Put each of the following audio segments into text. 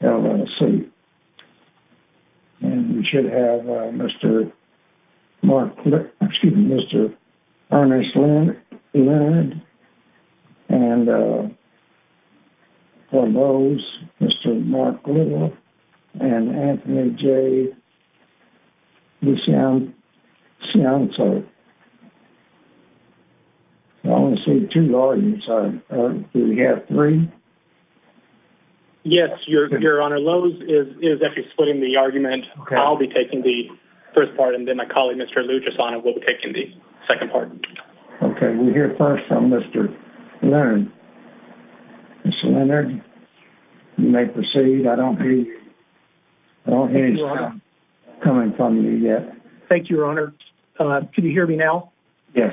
L.L.C. And we should have Mr. Mark, excuse me, Mr. Ernest Leonard and for Lowe's, Mr. Mark Little and Anthony J. Luciano, so I only see two arguments, do we have three? Yes, Your Honor, Lowe's is actually splitting the argument, I'll be taking the first part and then my colleague, Mr. Lucheson, will be taking the second part. Okay, we'll hear first from Mr. Leonard, Mr. Leonard, you may proceed, I don't hear you, I don't hear anything coming from you yet. Thank you, Your Honor. Can you hear me now? Yes.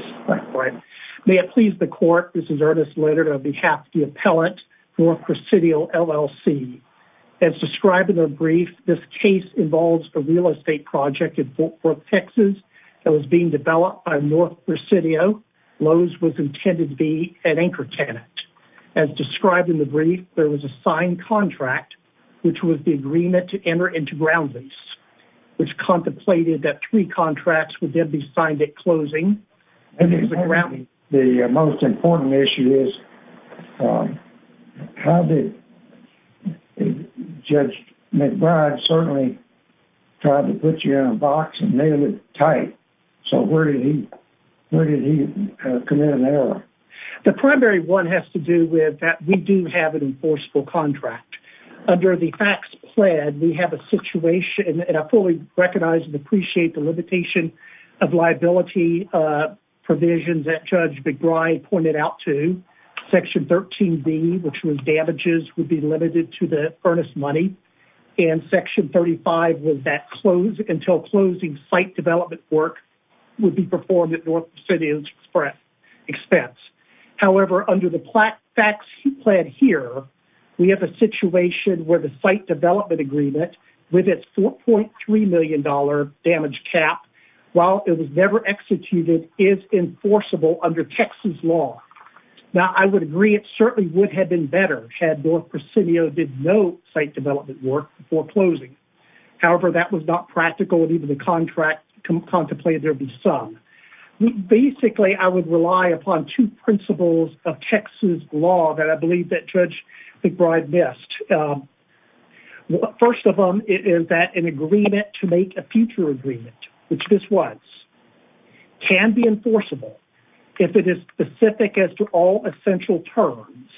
May it please the court, this is Ernest Leonard on behalf of the appellate for Presidio, L.L.C. As described in the brief, this case involves a real estate project in Fort Worth, Texas that was being developed by North Presidio, Lowe's was intended to be an anchor tenant. As described in the brief, there was a signed contract, which was the agreement to enter into ground lease, which contemplated that three contracts would then be signed at closing. The most important issue is how did Judge McBride certainly try to put you in a box and nail it tight, so where did he commit an error? The primary one has to do with that we do have an enforceable contract. Under the FACTS plan, we have a situation, and I fully recognize and appreciate the limitation of liability provisions that Judge McBride pointed out to, Section 13B, which was damages would be limited to the earnest money, and Section 35 was that until closing, site development work would be performed at North Presidio's expense. However, under the FACTS plan here, we have a situation where the site development agreement with its $4.3 million damage cap, while it was never executed, is enforceable under Texas law. Now, I would agree it certainly would have been better had North Presidio did no site development work before closing. However, that was not practical, and even the contract contemplated there would be some. Basically, I would rely upon two principles of Texas law that I believe that Judge McBride missed. First of all, it is that an agreement to make a future agreement, which this was, can be specific as to all essential terms,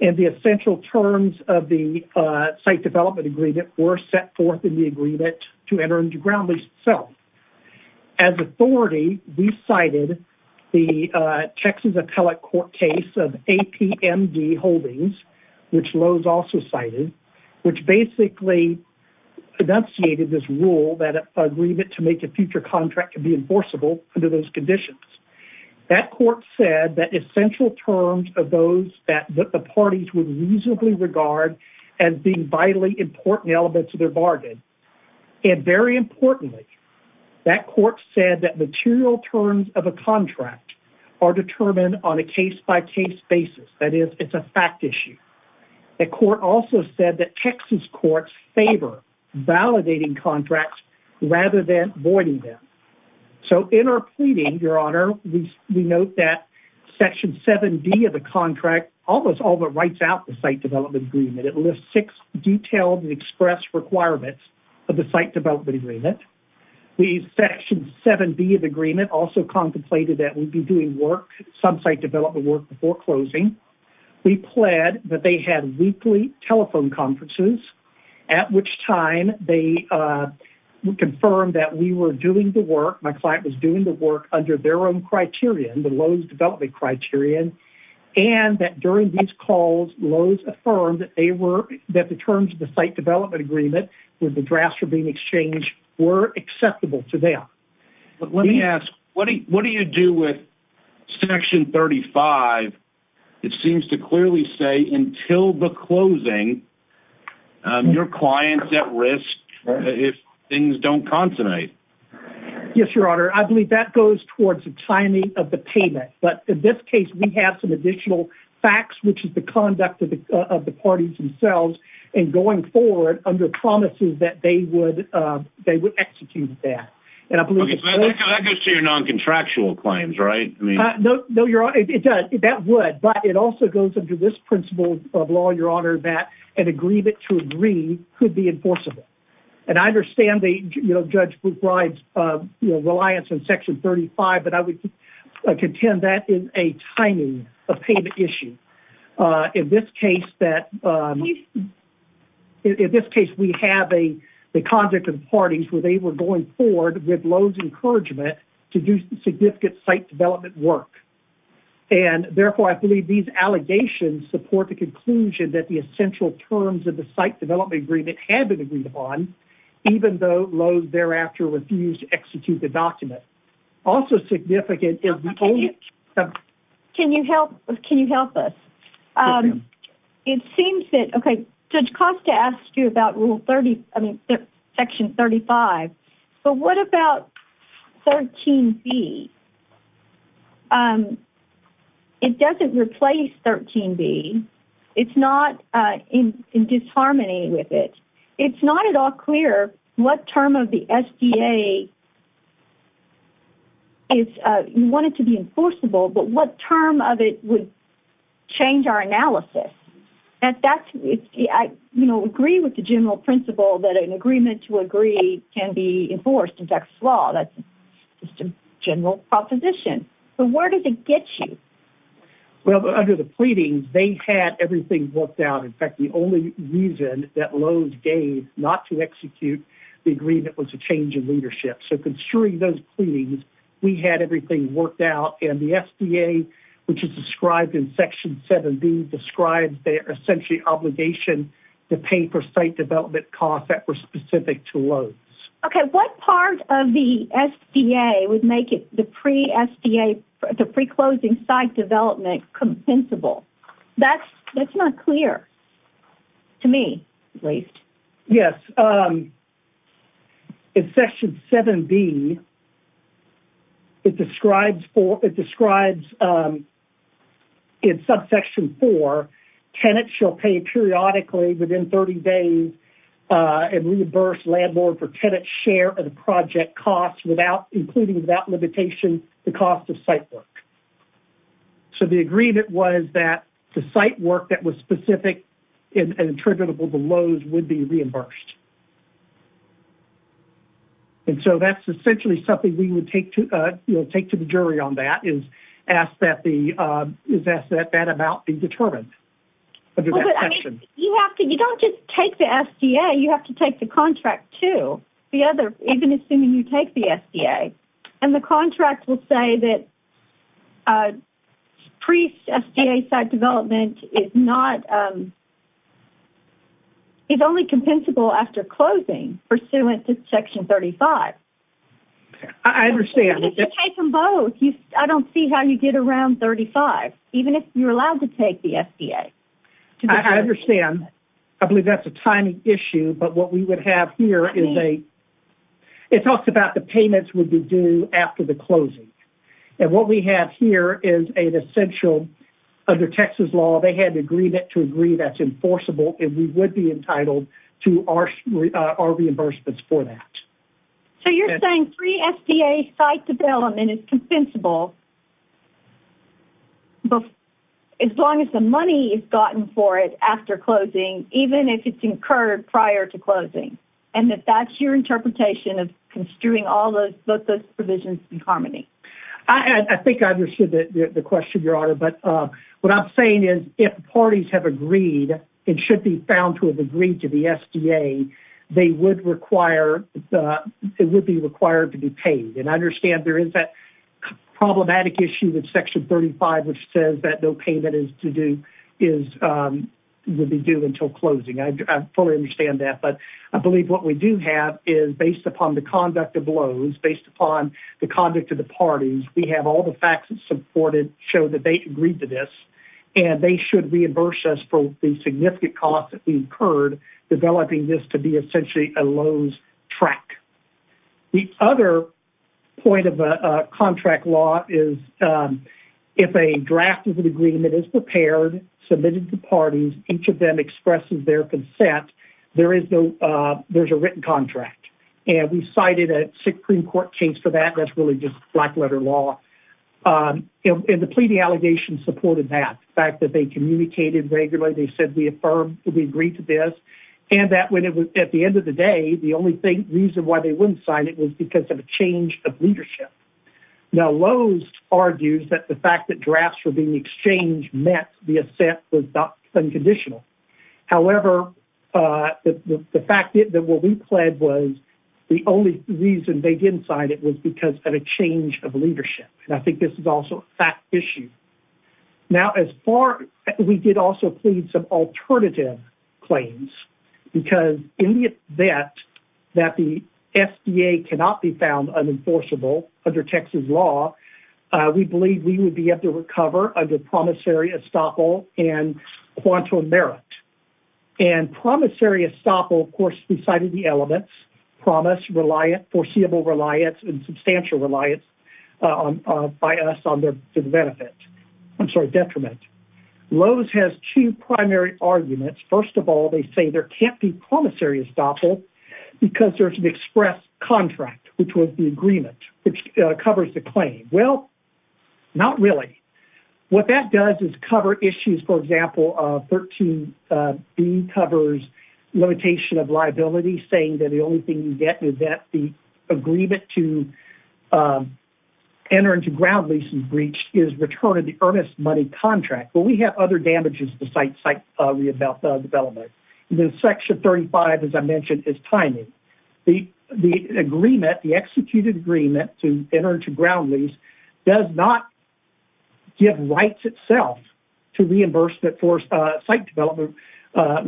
and the essential terms of the site development agreement were set forth in the agreement to enter into ground lease itself. As authority, we cited the Texas appellate court case of APMD Holdings, which Lowe's also cited, which basically enunciated this rule that an agreement to make a future contract could be enforceable under those conditions. That court said that essential terms of those that the parties would reasonably regard as being vitally important elements of their bargain, and very importantly, that court said that material terms of a contract are determined on a case-by-case basis. That is, it's a fact issue. The court also said that Texas courts favor validating contracts rather than voiding them. So in our pleading, Your Honor, we note that Section 7B of the contract almost all but writes out the site development agreement. It lists six detailed and expressed requirements of the site development agreement. The Section 7B of the agreement also contemplated that we'd be doing work, some site development work before closing. We pled that they had weekly telephone conferences, at which time they confirmed that we were doing the work, my client was doing the work under their own criterion, the Lowe's development criterion, and that during these calls, Lowe's affirmed that the terms of the site development agreement with the drafts for being exchanged were acceptable to them. Let me ask, what do you do with Section 35? It seems to clearly say, until the closing, your client's at risk if things don't consonate. Yes, Your Honor, I believe that goes towards the timing of the payment. But in this case, we have some additional facts, which is the conduct of the parties themselves in going forward under promises that they would execute that. And I believe- Okay, so that goes to your non-contractual claims, right? I mean- No, Your Honor, it does. That would. But it also goes under this principle of law, Your Honor, that an agreement to agree could be enforceable. And I understand Judge Boothwright's reliance on Section 35, but I would contend that is a timing of payment issue. In this case, we have the conduct of the parties where they were going forward with Lowe's encouragement to do significant site development work. And therefore, I believe these allegations support the conclusion that the essential terms of the site development agreement had been agreed upon, even though Lowe's thereafter refused to execute the document. Also significant is- Can you help us? It seems that- Okay, Judge Costa asked you about Rule 30- I mean, Section 35. But what about 13b? It doesn't replace 13b. It's not in disharmony with it. It's not at all clear what term of the SDA is- you want it to be enforceable, but what term of it would change our analysis? And that's- I agree with the general principle that an agreement to agree can be enforced in Texas law. That's just a general proposition. But where does it get you? Well, under the pleadings, they had everything worked out. In fact, the only reason that Lowe's gave not to execute the agreement was a change in leadership. So, considering those pleadings, we had everything worked out. And the SDA, which is described in Section 7b, describes their essentially obligation to pay for site development costs that were specific to Lowe's. Okay, what part of the SDA would make the pre-SDA- the pre-closing site development compensable? That's not clear to me, at least. Yes, in Section 7b, it describes in subsection 4, tenants shall pay periodically within 30 days and reimburse landlord for tenant share of the project costs without- including without limitation- the cost of site work. So, the agreement was that the site work that was specific and attributable to Lowe's would be reimbursed. And so, that's essentially something we would take to- you know, take to the jury on that is ask that the- is ask that that amount be determined under that section. You have to- you don't just take the SDA, you have to take the contract, too. The other- even assuming you take the SDA. And the contract will say that pre-SDA site development is not- is only compensable after closing pursuant to Section 35. I understand. You can take them both. I don't see how you get around 35, even if you're allowed to take the SDA. I understand. I believe that's a timing issue, but what we would have here is a- it talks about the payments would be due after the closing. And what we have here is an essential- under Texas law, they had an agreement to agree that's enforceable and we would be entitled to our reimbursements for that. So, you're saying pre-SDA site development is compensable as long as the money is gotten for it after closing, even if it's incurred prior to closing? And if that's your interpretation of construing all those- both those provisions in harmony? I think I understood the question, Your Honor, but what I'm saying is if parties have agreed and should be found to have agreed to the SDA, they would require- it would be required to be paid. And I understand there is that problematic issue with Section 35, which says that no payment is to do- is- would be due until closing. I fully understand that, but I believe what we do have is based upon the conduct of Lowe's, based upon the conduct of the parties, we have all the facts that's supported show that they agreed to this and they should reimburse us for the significant cost that we incurred developing this to be essentially a Lowe's track. The other point of a contract law is if a draft of an agreement is prepared, submitted to parties, each of them expresses their consent, there is no- there's a written contract. And we cited a Supreme Court case for that, that's really just black letter law. And the pleading allegations supported that, the fact that they communicated regularly, they said we affirmed, we agreed to this, and that when it was- at the end of the day, the only thing- reason why they wouldn't sign it was because of a change of leadership. Now Lowe's argues that the fact that drafts were being exchanged meant the assent was not unconditional. However, the fact that what we pled was the only reason they didn't sign it was because of a change of leadership, and I think this is also a fact issue. Now as far- we did also plead some alternative claims because in the event that the SBA cannot be found unenforceable under Texas law, we believe we would be able to recover under promissory estoppel and quantum merit. And promissory estoppel, of course, we cited the elements, promise, reliant, foreseeable reliance, and substantial reliance by us on their benefit- I'm sorry, detriment. Lowe's has two primary arguments. First of all, they say there can't be promissory estoppel because there's an express contract, which was the agreement, which covers the claim. Well, not really. What that does is cover issues, for example, 13b covers limitation of liability, saying that the only thing you get is that the agreement to enter into ground lease and breach is return of the earnest money contract. Well, we have other damages besides site development, and then section 35, as I mentioned, is timing. The agreement, the executed agreement to enter into ground lease does not give rights itself to reimbursement for site development,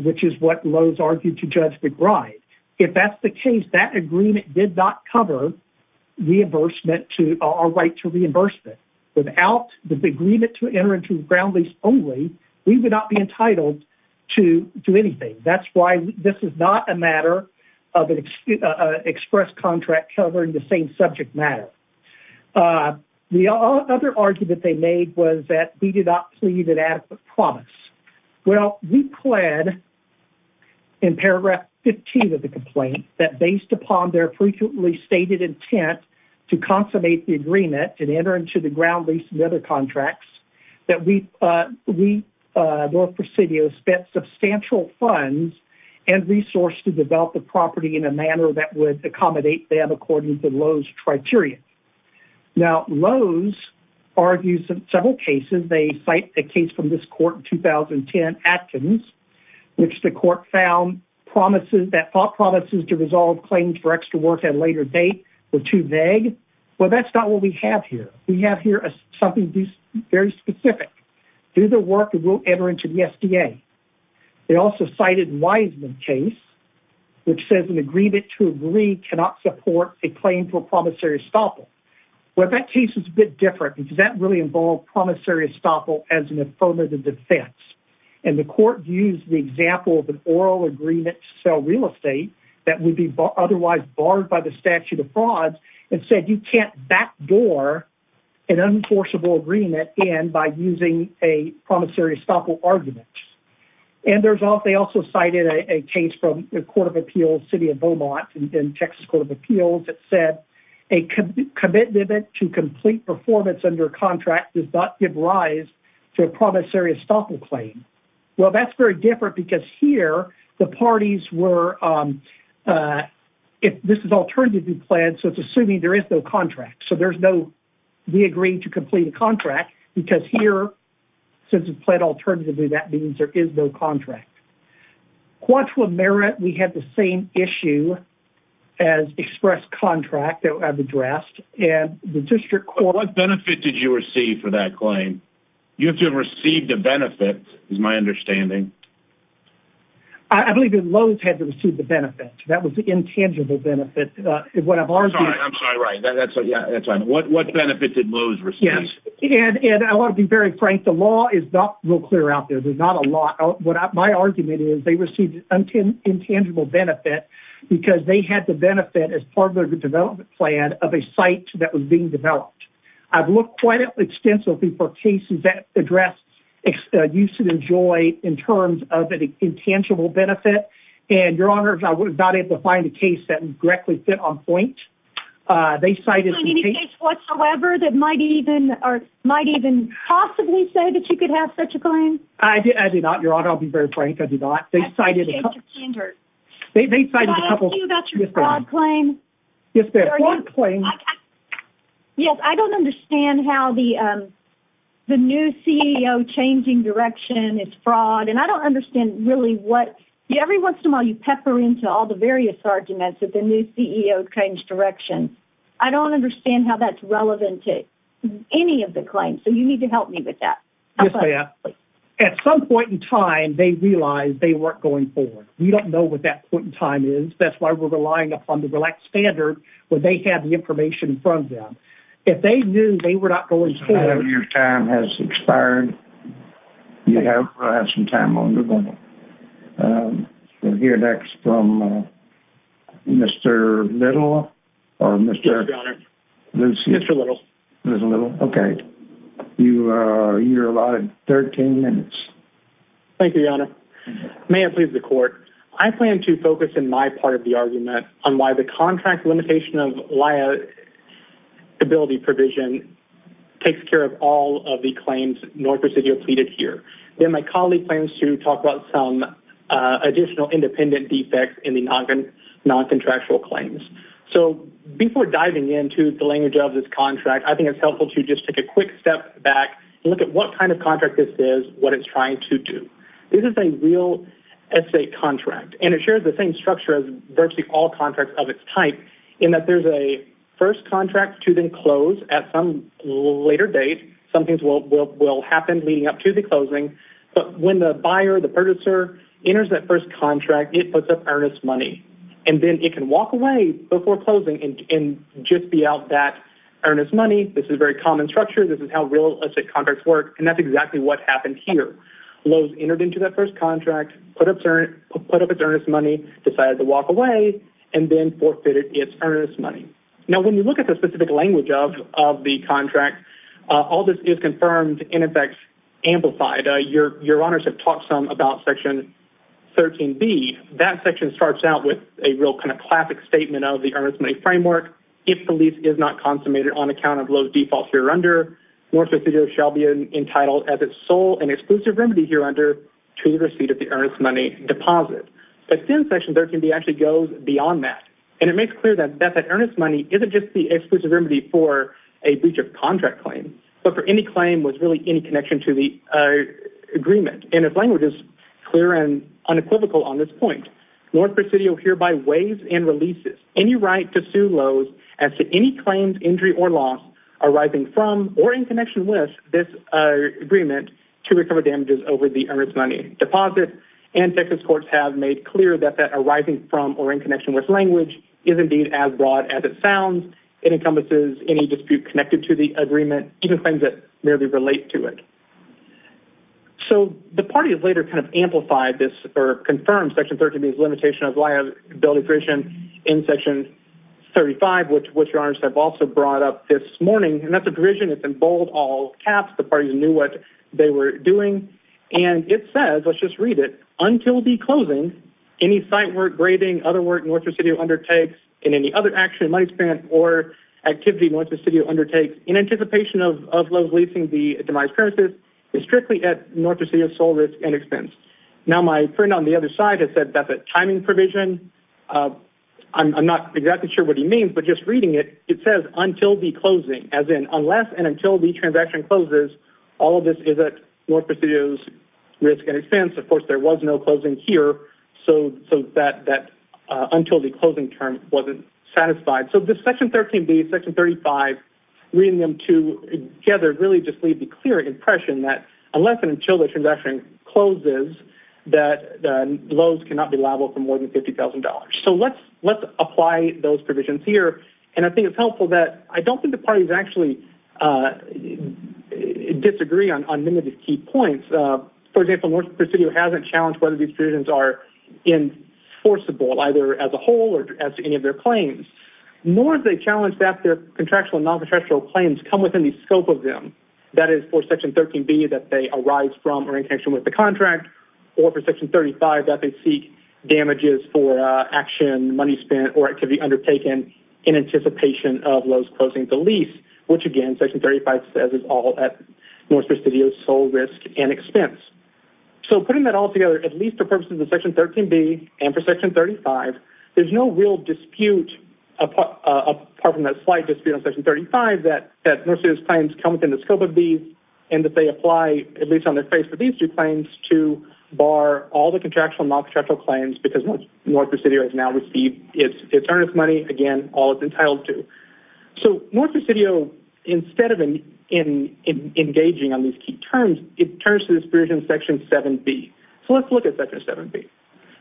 which is what Lowe's argued to judge the gride. If that's the case, that agreement did not cover reimbursement to- our right to reimbursement. Without the agreement to enter into ground lease only, we would not be entitled to do anything. That's why this is not a matter of an express contract covering the same subject matter. The other argument they made was that we did not plead an adequate promise. Well, we pled in paragraph 15 of the complaint that based upon their frequently stated intent to consummate the agreement and enter into the ground lease and other contracts, that we, North Presidio, spent substantial funds and resource to develop the property in a manner that would accommodate them according to Lowe's criteria. Now, Lowe's argues in several cases. They cite a case from this court in 2010, Atkins, which the court found promises- that thought promises to resolve claims for extra work at a later date were too vague. Well, that's not what we have here. We have here something very specific. Do the work and we'll enter into the SDA. They also cited Wiseman case, which says an agreement to agree cannot support a claim for promissory estoppel. Well, that case is a bit different because that really involved promissory estoppel as an affirmative defense. And the court used the example of an oral agreement to sell real estate that would be otherwise barred by the statute of frauds and said, you can't backdoor an unenforceable agreement in by using a promissory estoppel argument. And there's also, they also cited a case from the court of appeals, City of Beaumont in Texas Court of Appeals that said a commitment to complete performance under contract does not give rise to a promissory estoppel claim. Well, that's very different because here the parties were, if this is alternatively planned, so it's assuming there is no contract. So there's no, we agree to complete a contract because here, since it's planned alternatively, that means there is no contract. Quant to a merit, we had the same issue as express contract that I've addressed. And the district court... What benefit did you receive for that claim? You have to have received a benefit, is my understanding. I believe that Lowe's had to receive the benefit. That was the intangible benefit. I'm sorry, I'm sorry. Right. That's right. What benefit did Lowe's receive? Yes. And I want to be very frank. The law is not real clear out there. There's not a law. My argument is they received an intangible benefit because they had the benefit as part of the development plan of a site that was being developed. I've looked quite extensively for cases that address use and enjoy in terms of an intangible benefit. And your honors, I was not able to find a case that directly fit on point. They cited... I do not, your honor. I'll be very frank. I do not. They cited a couple... They cited a couple... Can I ask you about your fraud claim? Yes, ma'am. Fraud claim... Yes, I don't understand how the new CEO changing direction is fraud. And I don't understand really what... Every once in a while, you pepper into all the various arguments that the new CEO changed direction. I don't understand how that's relevant to any of the claims. So you need to help me with that. Yes, ma'am. At some point in time, they realized they weren't going forward. We don't know what that point in time is. That's why we're relying upon the relaxed standard when they had the information in front of them. If they knew they were not going forward... Your time has expired. You have some time on your own. We'll hear next from Mr. Little or Mr. Lucy. Mr. Little. Mr. Little, okay. You're allotted 13 minutes. Thank you, Your Honor. May I please the court? I plan to focus in my part of the argument on why the contract limitation of liability provision takes care of all of the claims North Presidio pleaded here. Then my colleague plans to talk about some additional independent defects in the non-contractual claims. So before diving into the language of this contract, I think it's helpful to just take a quick step back and look at what kind of contract this is, what it's trying to do. This is a real estate contract. And it shares the same structure as virtually all contracts of its type in that there's a first contract to then close at some later date. Some things will happen leading up to the closing. But when the buyer, the purchaser, enters that first contract, it puts up earnest money. And then it can walk away before closing and just be out that earnest money. This is very common structure. This is how real estate contracts work. And that's exactly what happened here. Lowe's entered into that first contract, put up its earnest money, decided to walk away, and then forfeited its earnest money. Now, when you look at the specific language of the contract, all this is confirmed, in effect, amplified. Your Honors have talked some about Section 13B. That section starts out with a real kind of classic statement of the earnest money framework. If the lease is not consummated on account of Lowe's defaults hereunder, North Presidio shall be entitled as its sole and exclusive remedy hereunder to the receipt of the earnest money deposit. But then Section 13B actually goes beyond that. And it makes clear that that earnest money isn't just the exclusive remedy for a breach of contract claim, but for any claim with really any connection to the agreement. And its language is clear and unequivocal on this point. North Presidio hereby waives and releases any right to sue Lowe's as to any claims, injury, or loss arising from or in connection with this agreement to recover damages over the earnest money deposit. And Texas courts have made clear that that arising from or in connection with language is indeed as broad as it sounds. It encompasses any dispute connected to the agreement, even claims that merely relate to it. So the party has later kind of amplified this or confirmed Section 13B's limitation of liability provision in Section 35, which, Your Honors, I've also brought up this morning. And that's a provision that's in bold, all caps. The parties knew what they were doing. And it says, let's just read it, until the closing, any site work, grading, other work North Presidio undertakes in any other action, money spent, or activity North Presidio undertakes in anticipation of Lowe's leasing the demised premises is strictly at North Presidio's sole risk and expense. Now, my friend on the other side has said that's a timing provision. I'm not exactly sure what he means, but just reading it, it says until the closing, as in unless and until the transaction closes, all of this is at North Presidio's risk and expense. Of course, there was no closing here, so that until the closing term wasn't satisfied. So this Section 13B, Section 35, reading them together, really just leave the clear impression that unless and until the transaction closes, that Lowe's cannot be liable for more than $50,000. So let's apply those provisions here. And I think it's helpful that I don't think the parties actually disagree on many of the key points. For example, North Presidio hasn't challenged whether these provisions are enforceable either as a whole or as any of their claims, nor have they challenged that their contractual and non-contractual claims come within the scope of them. That is for Section 13B that they arise from or in connection with the contract, or for Section 35 that they seek damages for action, money spent, or activity undertaken in anticipation of Lowe's closing the lease, which again, Section 35 says is all at North Presidio's sole risk and expense. So putting that all together, at least for purposes of Section 13B and for Section 35, there's no real dispute apart from a slight dispute on Section 35 that North Presidio's claims come within the scope of these and that they apply at least on their face for these two claims to bar all the contractual and non-contractual claims because North Presidio has now received its earnest money, again, all it's entitled to. So North Presidio, instead of engaging on these key terms, it turns to this version of Section 7B. So let's look at Section 7B.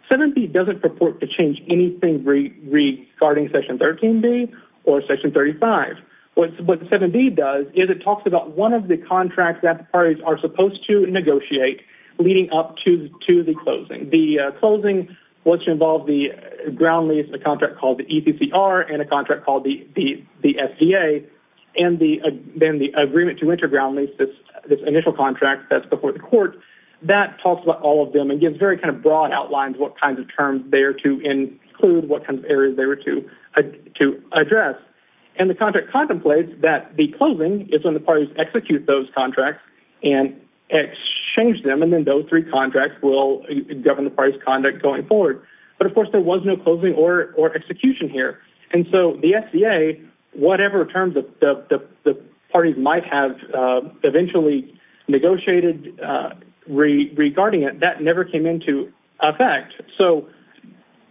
7B doesn't purport to change anything regarding Section 13B or Section 35. What 7B does is it talks about one of the contracts that the parties are supposed to negotiate leading up to the closing. The closing was to involve the ground lease, a contract called the ECCR, and a contract called the FDA, and then the agreement to enter ground lease, this initial contract that's before the court, that talks about all of them and gives very kind of broad outlines what kinds of terms they are to include, what kinds of areas they were to address. And the contract contemplates that the closing is when the parties execute those contracts and exchange them, and then those three contracts will govern the parties' conduct going forward. But of course, there was no closing or execution here. And so the FDA, whatever terms the parties might have eventually negotiated regarding it, that never came into effect. So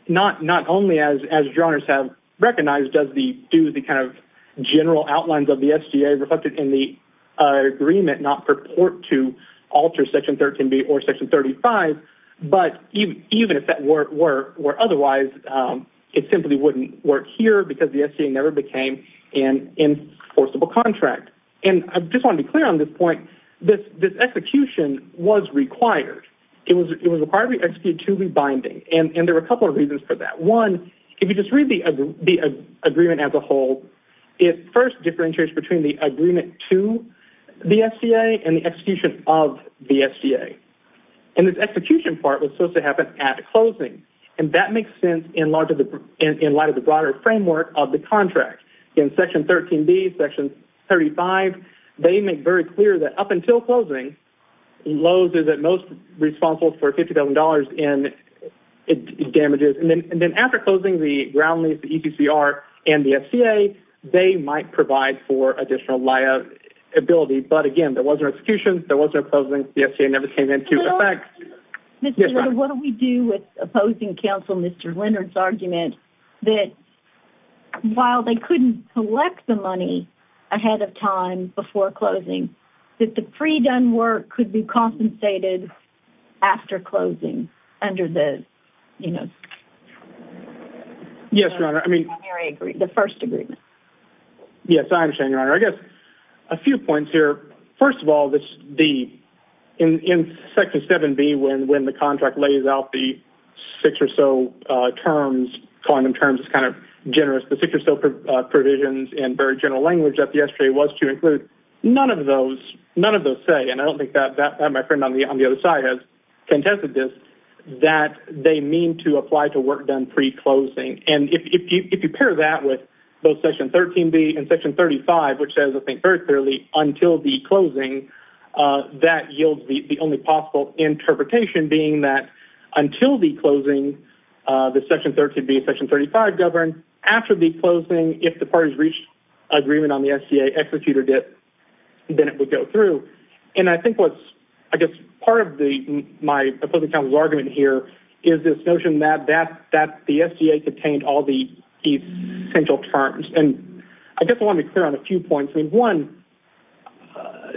not only as your honors have recognized does the kind of general outlines of the FDA reflected in the agreement not purport to alter Section 13B or Section 35, but even if that were otherwise, it simply wouldn't work here because the FDA never became an enforceable contract. And I just want to be clear on this point, this execution was required. It was required to be executed to be binding. And there were a couple of reasons for that. One, if you just read the agreement as a whole, it first differentiates between the agreement to the FDA and the execution of the FDA. And this execution part was supposed to happen at closing. And that makes sense in light of the broader framework of the contract. In Section 13B, Section 35, they make very clear that up until closing, those are the most responsible for $50,000 in damages. And then after closing, the ground lease, the EPCR, and the FCA, they might provide for additional liability. But again, there was no execution, there was no closing, the FCA never came into effect. Mr. Liddle, what do we do with opposing counsel Mr. Leonard's argument that while they couldn't collect the money ahead of time before closing, that the pre-done work could be compensated after closing under the... Yes, Your Honor, I mean... The first agreement. Yes, I understand, Your Honor. I guess a few points here. First of all, in Section 7B, when the contract lays out the six or so terms, calling them terms is kind of generous, the six or so provisions in very general language that the SGA was to include, none of those say, and I don't think that my friend on the other side has contested this, that they mean to apply to work done pre-closing. And if you pair that with both Section 13B and Section 35, which says, I think, very clearly, until the closing, that yields the only possible interpretation being that until the closing, the Section 13B and Section 35 govern. After the closing, if the parties reached agreement on the SGA, executed it, then it would go through. And I think what's, I guess, part of my opposing counsel's argument here is this notion that the SGA contained all the essential terms. And I guess I want to be clear on a few points. I mean, one,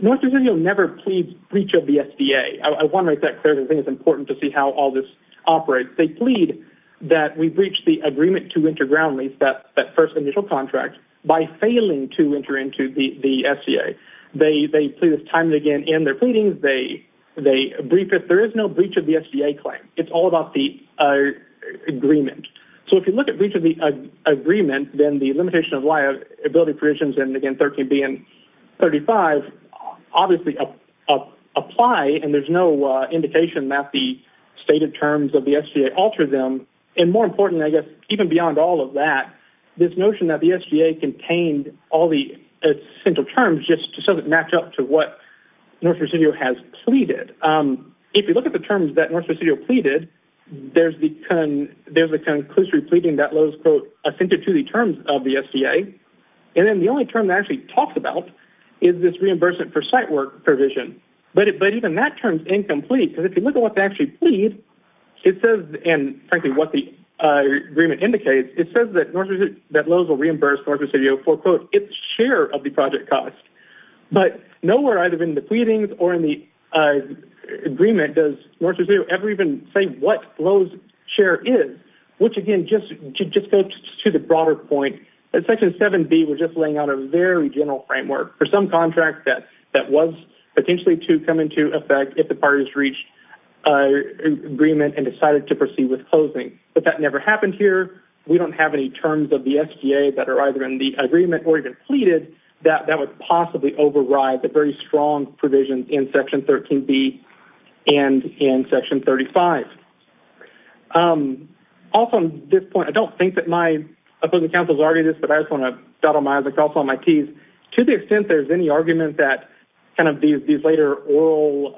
North Carolina never pleads breach of the SGA. I want to make that clear because I think it's important to see how all this operates. They plead that we breach the agreement to enter ground lease, that first initial contract, by failing to enter into the SGA. They plead this time and again in their pleadings. They brief it. There is no breach of the SGA claim. It's all about the agreement. So if you look at breach of the agreement, then the limitation of liability provisions, and again, 13B and 35, obviously apply and there's no indication that the stated terms of the SGA alter them. And more important, I guess, even beyond all of that, this notion that the SGA contained all the essential terms just so it matched up to what North Carolina has pleaded. If you look at the terms that North Carolina pleaded, there's the conclusive pleading that Lowe's, quote, assented to the terms of the SGA. And then the only term that actually talks about is this reimbursement for site work provision. But even that term's incomplete because if you look at what they actually plead, it says, and frankly, what the agreement indicates, it says that Lowe's will reimburse North Carolina for, quote, its share of the project cost. But nowhere either in the pleadings or in the agreement does North Carolina ever even say what Lowe's share is, which again, just to go to the broader point, that Section 7B was just laying out a very general framework for some contract that was potentially to come into effect if the parties reached agreement and decided to proceed with closing. But that never happened here. We don't have any terms of the SGA that are either in the agreement or even pleaded that would possibly override the very strong provisions in Section 13B and in Section 35. Also, on this point, I don't think that my opposing counsel has argued this, but I just want to dot on my i's and cross on my t's. To the extent there's any argument that kind of these later oral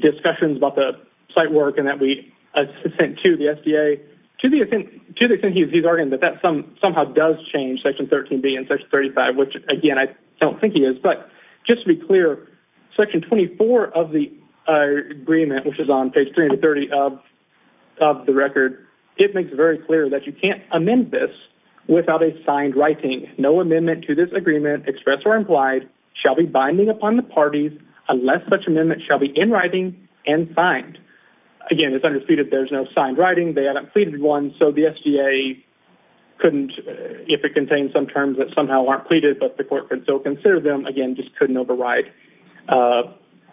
discussions about the site work and that we assent to the SGA, to the extent he's argued that that somehow does change Section 13B and Section 35, which again, I don't think he is. Just to be clear, Section 24 of the agreement, which is on page 330 of the record, it makes it very clear that you can't amend this without a signed writing. No amendment to this agreement, expressed or implied, shall be binding upon the parties unless such amendment shall be in writing and signed. Again, it's understated there's no signed writing. They haven't pleaded one, so the SGA couldn't, if it contains some terms that somehow aren't pleaded, but the court could still consider them. Again, just couldn't override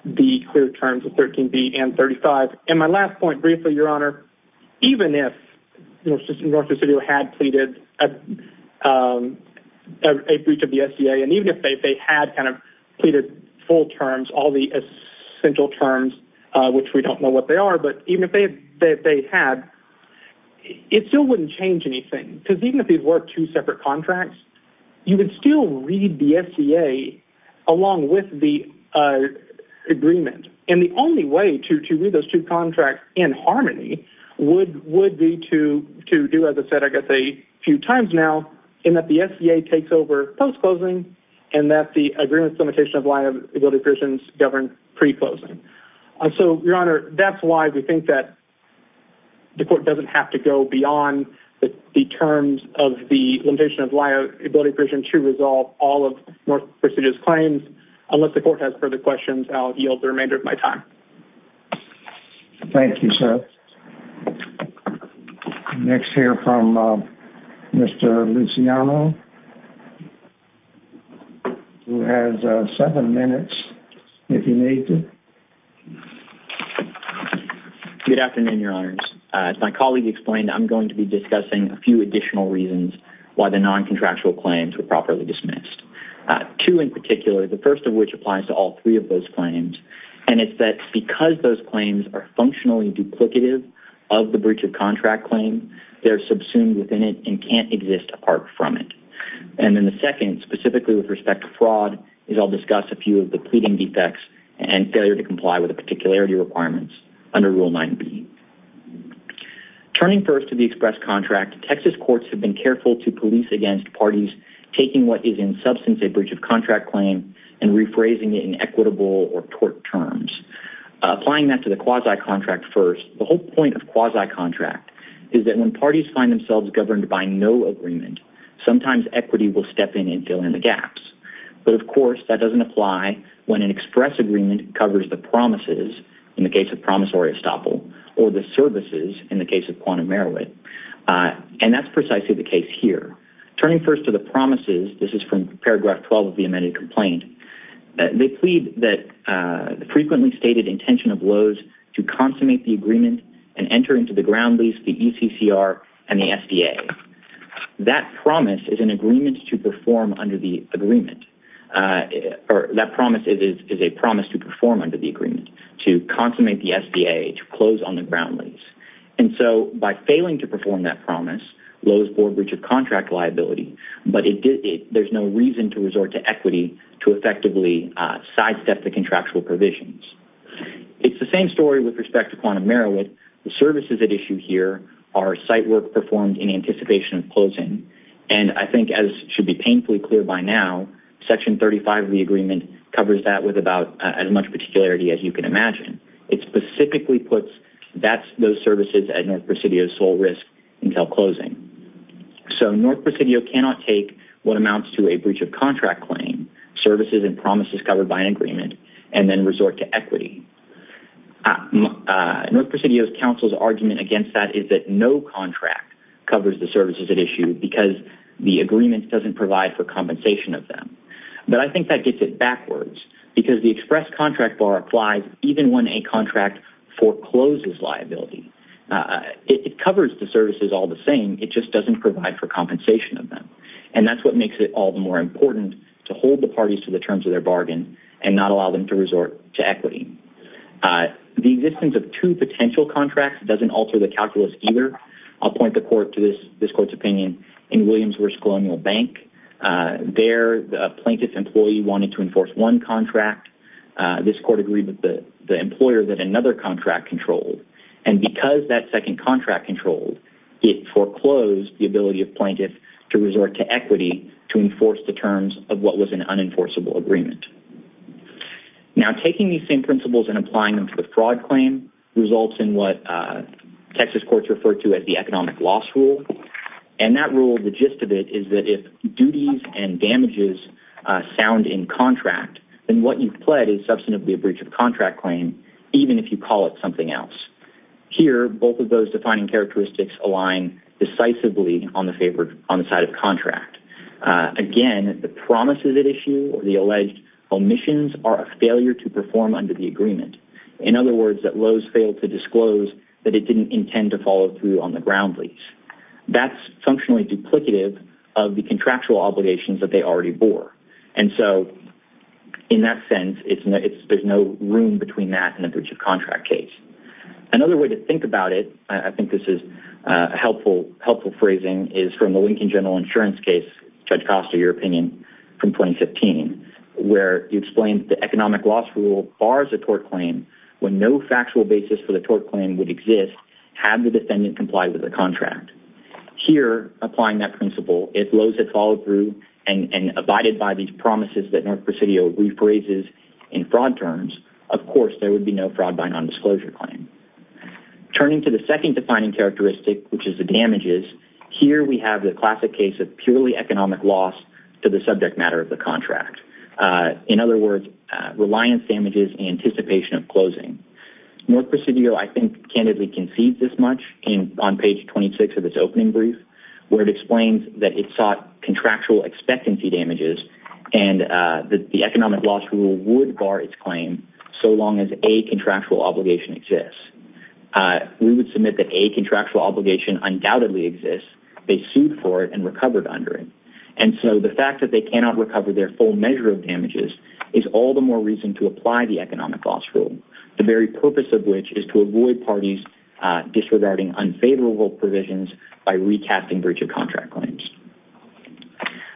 the clear terms of 13B and 35. And my last point briefly, Your Honor, even if North Dakota City had pleaded a breach of the SGA, and even if they had kind of pleaded full terms, all the essential terms, which we don't know what they are, but even if they had, it still wouldn't change anything. Because even if these were two separate contracts, you would still read the SGA along with the agreement. And the only way to read those two contracts in harmony would be to do, as I said, I guess, a few times now, in that the SGA takes over post-closing and that the agreement's limitation of liability provisions govern pre-closing. So, Your Honor, that's why we think that the court doesn't have to go ability provision to resolve all of North Dakota City's claims. Unless the court has further questions, I'll yield the remainder of my time. Thank you, Seth. Next, hear from Mr. Luciano, who has seven minutes, if you need to. Good afternoon, Your Honors. As my colleague explained, I'm going to be discussing a few additional reasons why the non-contractual claims were properly dismissed. Two in particular, the first of which applies to all three of those claims, and it's that because those claims are functionally duplicative of the breach of contract claim, they're subsumed within it and can't exist apart from it. And then the second, specifically with respect to fraud, is I'll discuss a few of the pleading defects and failure to comply with the particularity requirements under Rule 9b. Turning first to the express contract, Texas courts have been careful to police against parties taking what is in substance a breach of contract claim and rephrasing it in equitable or tort terms. Applying that to the quasi-contract first, the whole point of quasi-contract is that when parties find themselves governed by no agreement, sometimes equity will step in and fill in the gaps. But, of course, that doesn't apply when an express agreement covers the promises, in the case of promissory estoppel, or the services, in the case of quantum merowit. And that's precisely the case here. Turning first to the promises, this is from paragraph 12 of the amended complaint, they plead that the frequently stated intention of Lowe's to consummate the agreement and enter into the ground lease, the ECCR, and the SDA. That promise is an agreement to perform under the agreement, or that promise is a promise to perform under the agreement, to consummate the SDA, to close on the ground lease. And so by failing to perform that promise, Lowe's bore a breach of contract liability, but there's no reason to resort to equity to effectively sidestep the contractual provisions. It's the same story with respect to quantum merowit. The services at issue here are site work performed in anticipation of closing. And I think, as should be painfully clear by now, section 35 of the agreement covers that with about as much particularity as you can imagine. It specifically puts those services at North Presidio's sole risk until closing. So North Presidio cannot take what amounts to a breach of contract claim, services and promises covered by an agreement, and then resort to equity. North Presidio's counsel's argument against that is that no contract covers the services at issue because the agreement doesn't provide for compensation of them. But I think that gets it backwards because the express contract bar applies even when a contract forecloses liability. It covers the services all the same, it just doesn't provide for compensation of them. And that's what makes it all the more important to hold the parties to the terms of their bargain and not allow them to resort to equity. The existence of two potential contracts doesn't alter the calculus either. I'll point the court to this court's opinion in Williams versus Colonial Bank. There, the plaintiff's employee wanted to enforce one contract. This court agreed with the employer that another contract controlled. And because that second contract controlled, it foreclosed the ability of plaintiff to resort to equity to enforce the terms of what was an unenforceable agreement. Now, taking these same principles and applying them to the fraud claim results in what Texas courts refer to as the economic loss rule. And that rule, the gist of it is that if duties and damages sound in contract, then what you've pled is substantively a breach of contract claim, even if you call it something else. Here, both of those defining characteristics align decisively on the side of contract. Again, the promises at issue or the alleged omissions are a failure to perform under the agreement. In other words, that Lowe's failed to disclose that it didn't intend to follow through on the ground lease. That's functionally duplicative of the contractual obligations that they already bore. And so, in that sense, there's no room between that and a breach of contract case. Another way to think about it, I think this is a helpful phrasing, is from the Lincoln General Insurance case, Judge Costa, your opinion, from 2015, where you explained the economic loss rule bars a tort claim when no factual basis for the tort claim would exist had the defendant complied with the contract. Here, applying that principle, if Lowe's had followed through and abided by these promises that North Presidio rephrases in fraud terms, of course there would be no fraud by nondisclosure claim. Turning to the second defining characteristic, which is the damages, here we have the classic case of purely economic loss In other words, reliance damages in anticipation of closing. North Presidio, I think, candidly concedes this much on page 26 of its opening brief, where it explains that it sought contractual expectancy damages and that the economic loss rule would bar its claim so long as a contractual obligation exists. We would submit that a contractual obligation undoubtedly exists. They sued for it and recovered under it. And so, the fact that they cannot recover their full measure of damages is all the more reason to apply the economic loss rule. The very purpose of which is to avoid parties disregarding unfavorable provisions by recasting breach of contract claims.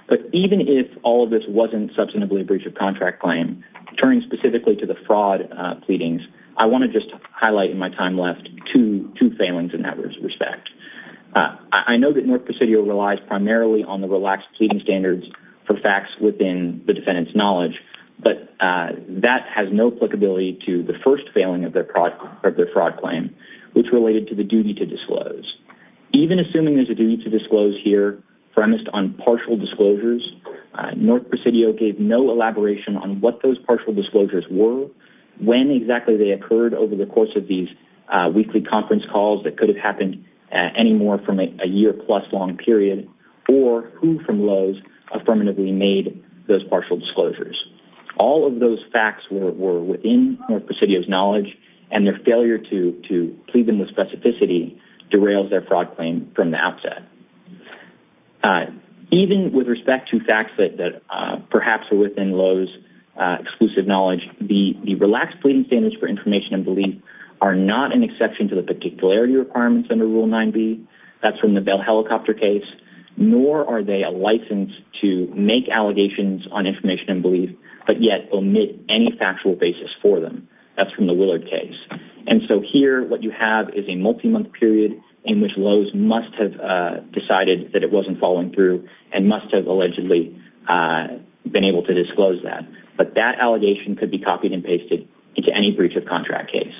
But even if all of this wasn't substantively a breach of contract claim, turning specifically to the fraud pleadings, I want to just highlight in my time left two failings in that respect. I know that North Presidio relies primarily on the relaxed pleading standards for facts within the defendant's knowledge, but that has no applicability to the first failing of their fraud claim, which related to the duty to disclose. Even assuming there's a duty to disclose here premised on partial disclosures, North Presidio gave no elaboration on what those partial disclosures were, when exactly they occurred over the course of these weekly conference calls that could have happened anymore from a year plus long period, or who from Lowe's affirmatively made those partial disclosures. All of those facts were within North Presidio's knowledge, and their failure to plead them with specificity derails their fraud claim from the outset. Even with respect to facts that perhaps are within Lowe's exclusive knowledge, the relaxed pleading standards for information and belief are not an exception to the particularity requirements under Rule 9b, that's from the Bell helicopter case, nor are they a license to make allegations on information and belief, but yet omit any factual basis for them. That's from the Willard case. And so here, what you have is a multi-month period in which Lowe's must have decided that it wasn't following through, and must have allegedly been able to disclose that. But that allegation could be copied and pasted into any breach of contract case.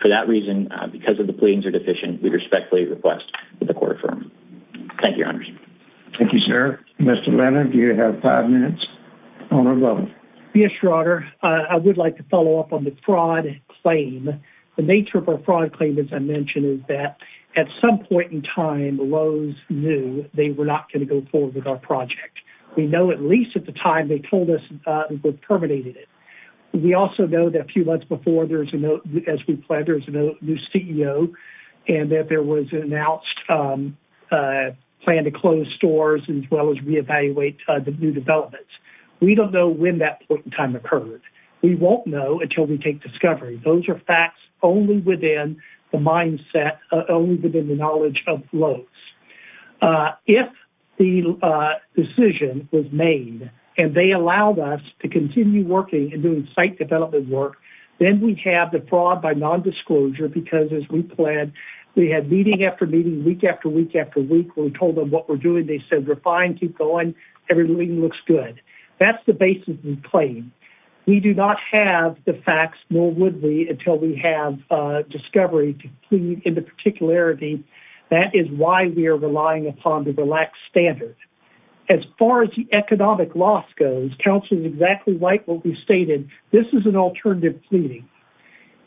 For that reason, because of the pleadings are deficient, we respectfully request that the court affirm. Thank you, Your Honors. Thank you, sir. Mr. Leonard, do you have five minutes? Owner Lovell. Yes, Your Honor. I would like to follow up on the fraud claim. The nature of our fraud claim, as I mentioned, is that at some point in time, Lowe's knew they were not gonna go forward with our project. We know, at least at the time they told us they've terminated it. We also know that a few months before, as we planned, there was a new CEO, and that there was an announced plan to close stores, as well as reevaluate the new developments. We don't know when that point in time occurred. We won't know until we take discovery. Those are facts only within the mindset, only within the knowledge of Lowe's. If the decision was made, and they allowed us to continue working and doing site development work, then we have the fraud by nondisclosure, because as we planned, we had meeting after meeting, week after week after week. We told them what we're doing. They said, we're fine, keep going. Everything looks good. That's the basis of the claim. We do not have the facts, nor would we, until we have discovery to plead in the particularity. That is why we are relying upon the relaxed standard. As far as the economic loss goes, counsel is exactly right what we stated. This is an alternative pleading.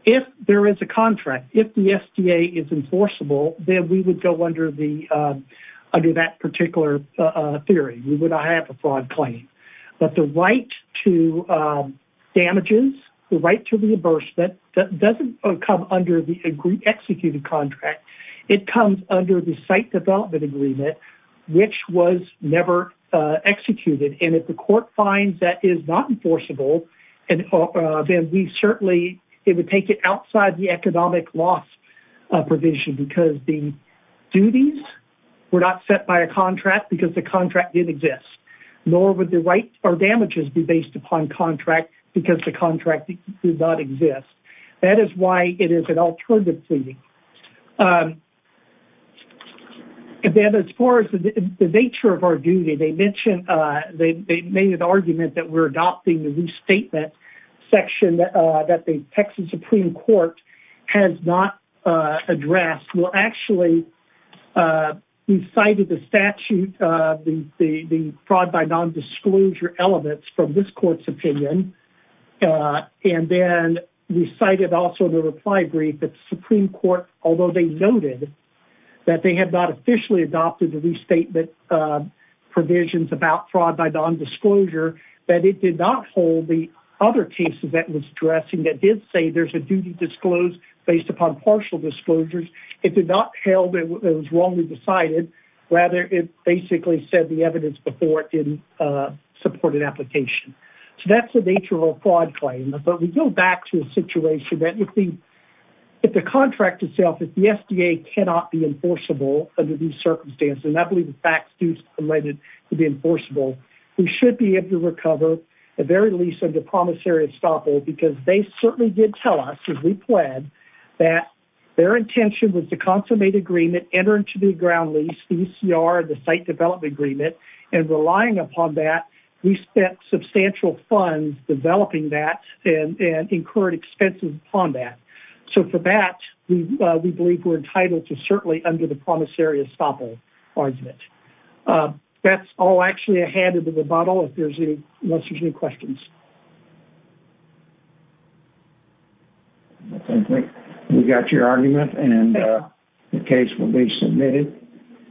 If there is a contract, if the SDA is enforceable, then we would go under that particular theory. We would not have a fraud claim. But the right to damages, the right to reimbursement, that doesn't come under the executed contract. It comes under the site development agreement, which was never executed. And if the court finds that is not enforceable, then we certainly, it would take it outside the economic loss provision, because the duties were not set by a contract, because the contract didn't exist. Nor would the rights or damages be based upon contract, because the contract did not exist. That is why it is an alternative pleading. And then as far as the nature of our duty, they mentioned, they made an argument that we're adopting the restatement section that the Texas Supreme Court has not addressed. Well, actually, we cited the statute, the fraud by non-disclosure elements from this court's opinion. And then we cited also the reply brief that the Supreme Court, although they noted that they had not officially adopted the restatement provisions about fraud by non-disclosure, that it did not hold the other cases that was addressing that did say there's a duty disclosed based upon partial disclosures. It did not held that it was wrongly decided, rather it basically said the evidence before it didn't support an application. So that's the nature of a fraud claim. But we go back to a situation that if the contract itself, if the FDA cannot be enforceable under these circumstances, and I believe the facts do permit it to be enforceable, we should be able to recover the very lease of the promissory estoppel because they certainly did tell us, as we pled, that their intention was to consummate agreement, enter into the ground lease, the ECR, the site development agreement, and relying upon that, we spent substantial funds developing that and incurred expenses upon that. So for that, we believe we're entitled to certainly under the promissory estoppel argument. That's all actually I had at the rebuttal, if there's any questions. We got your argument and the case will be submitted.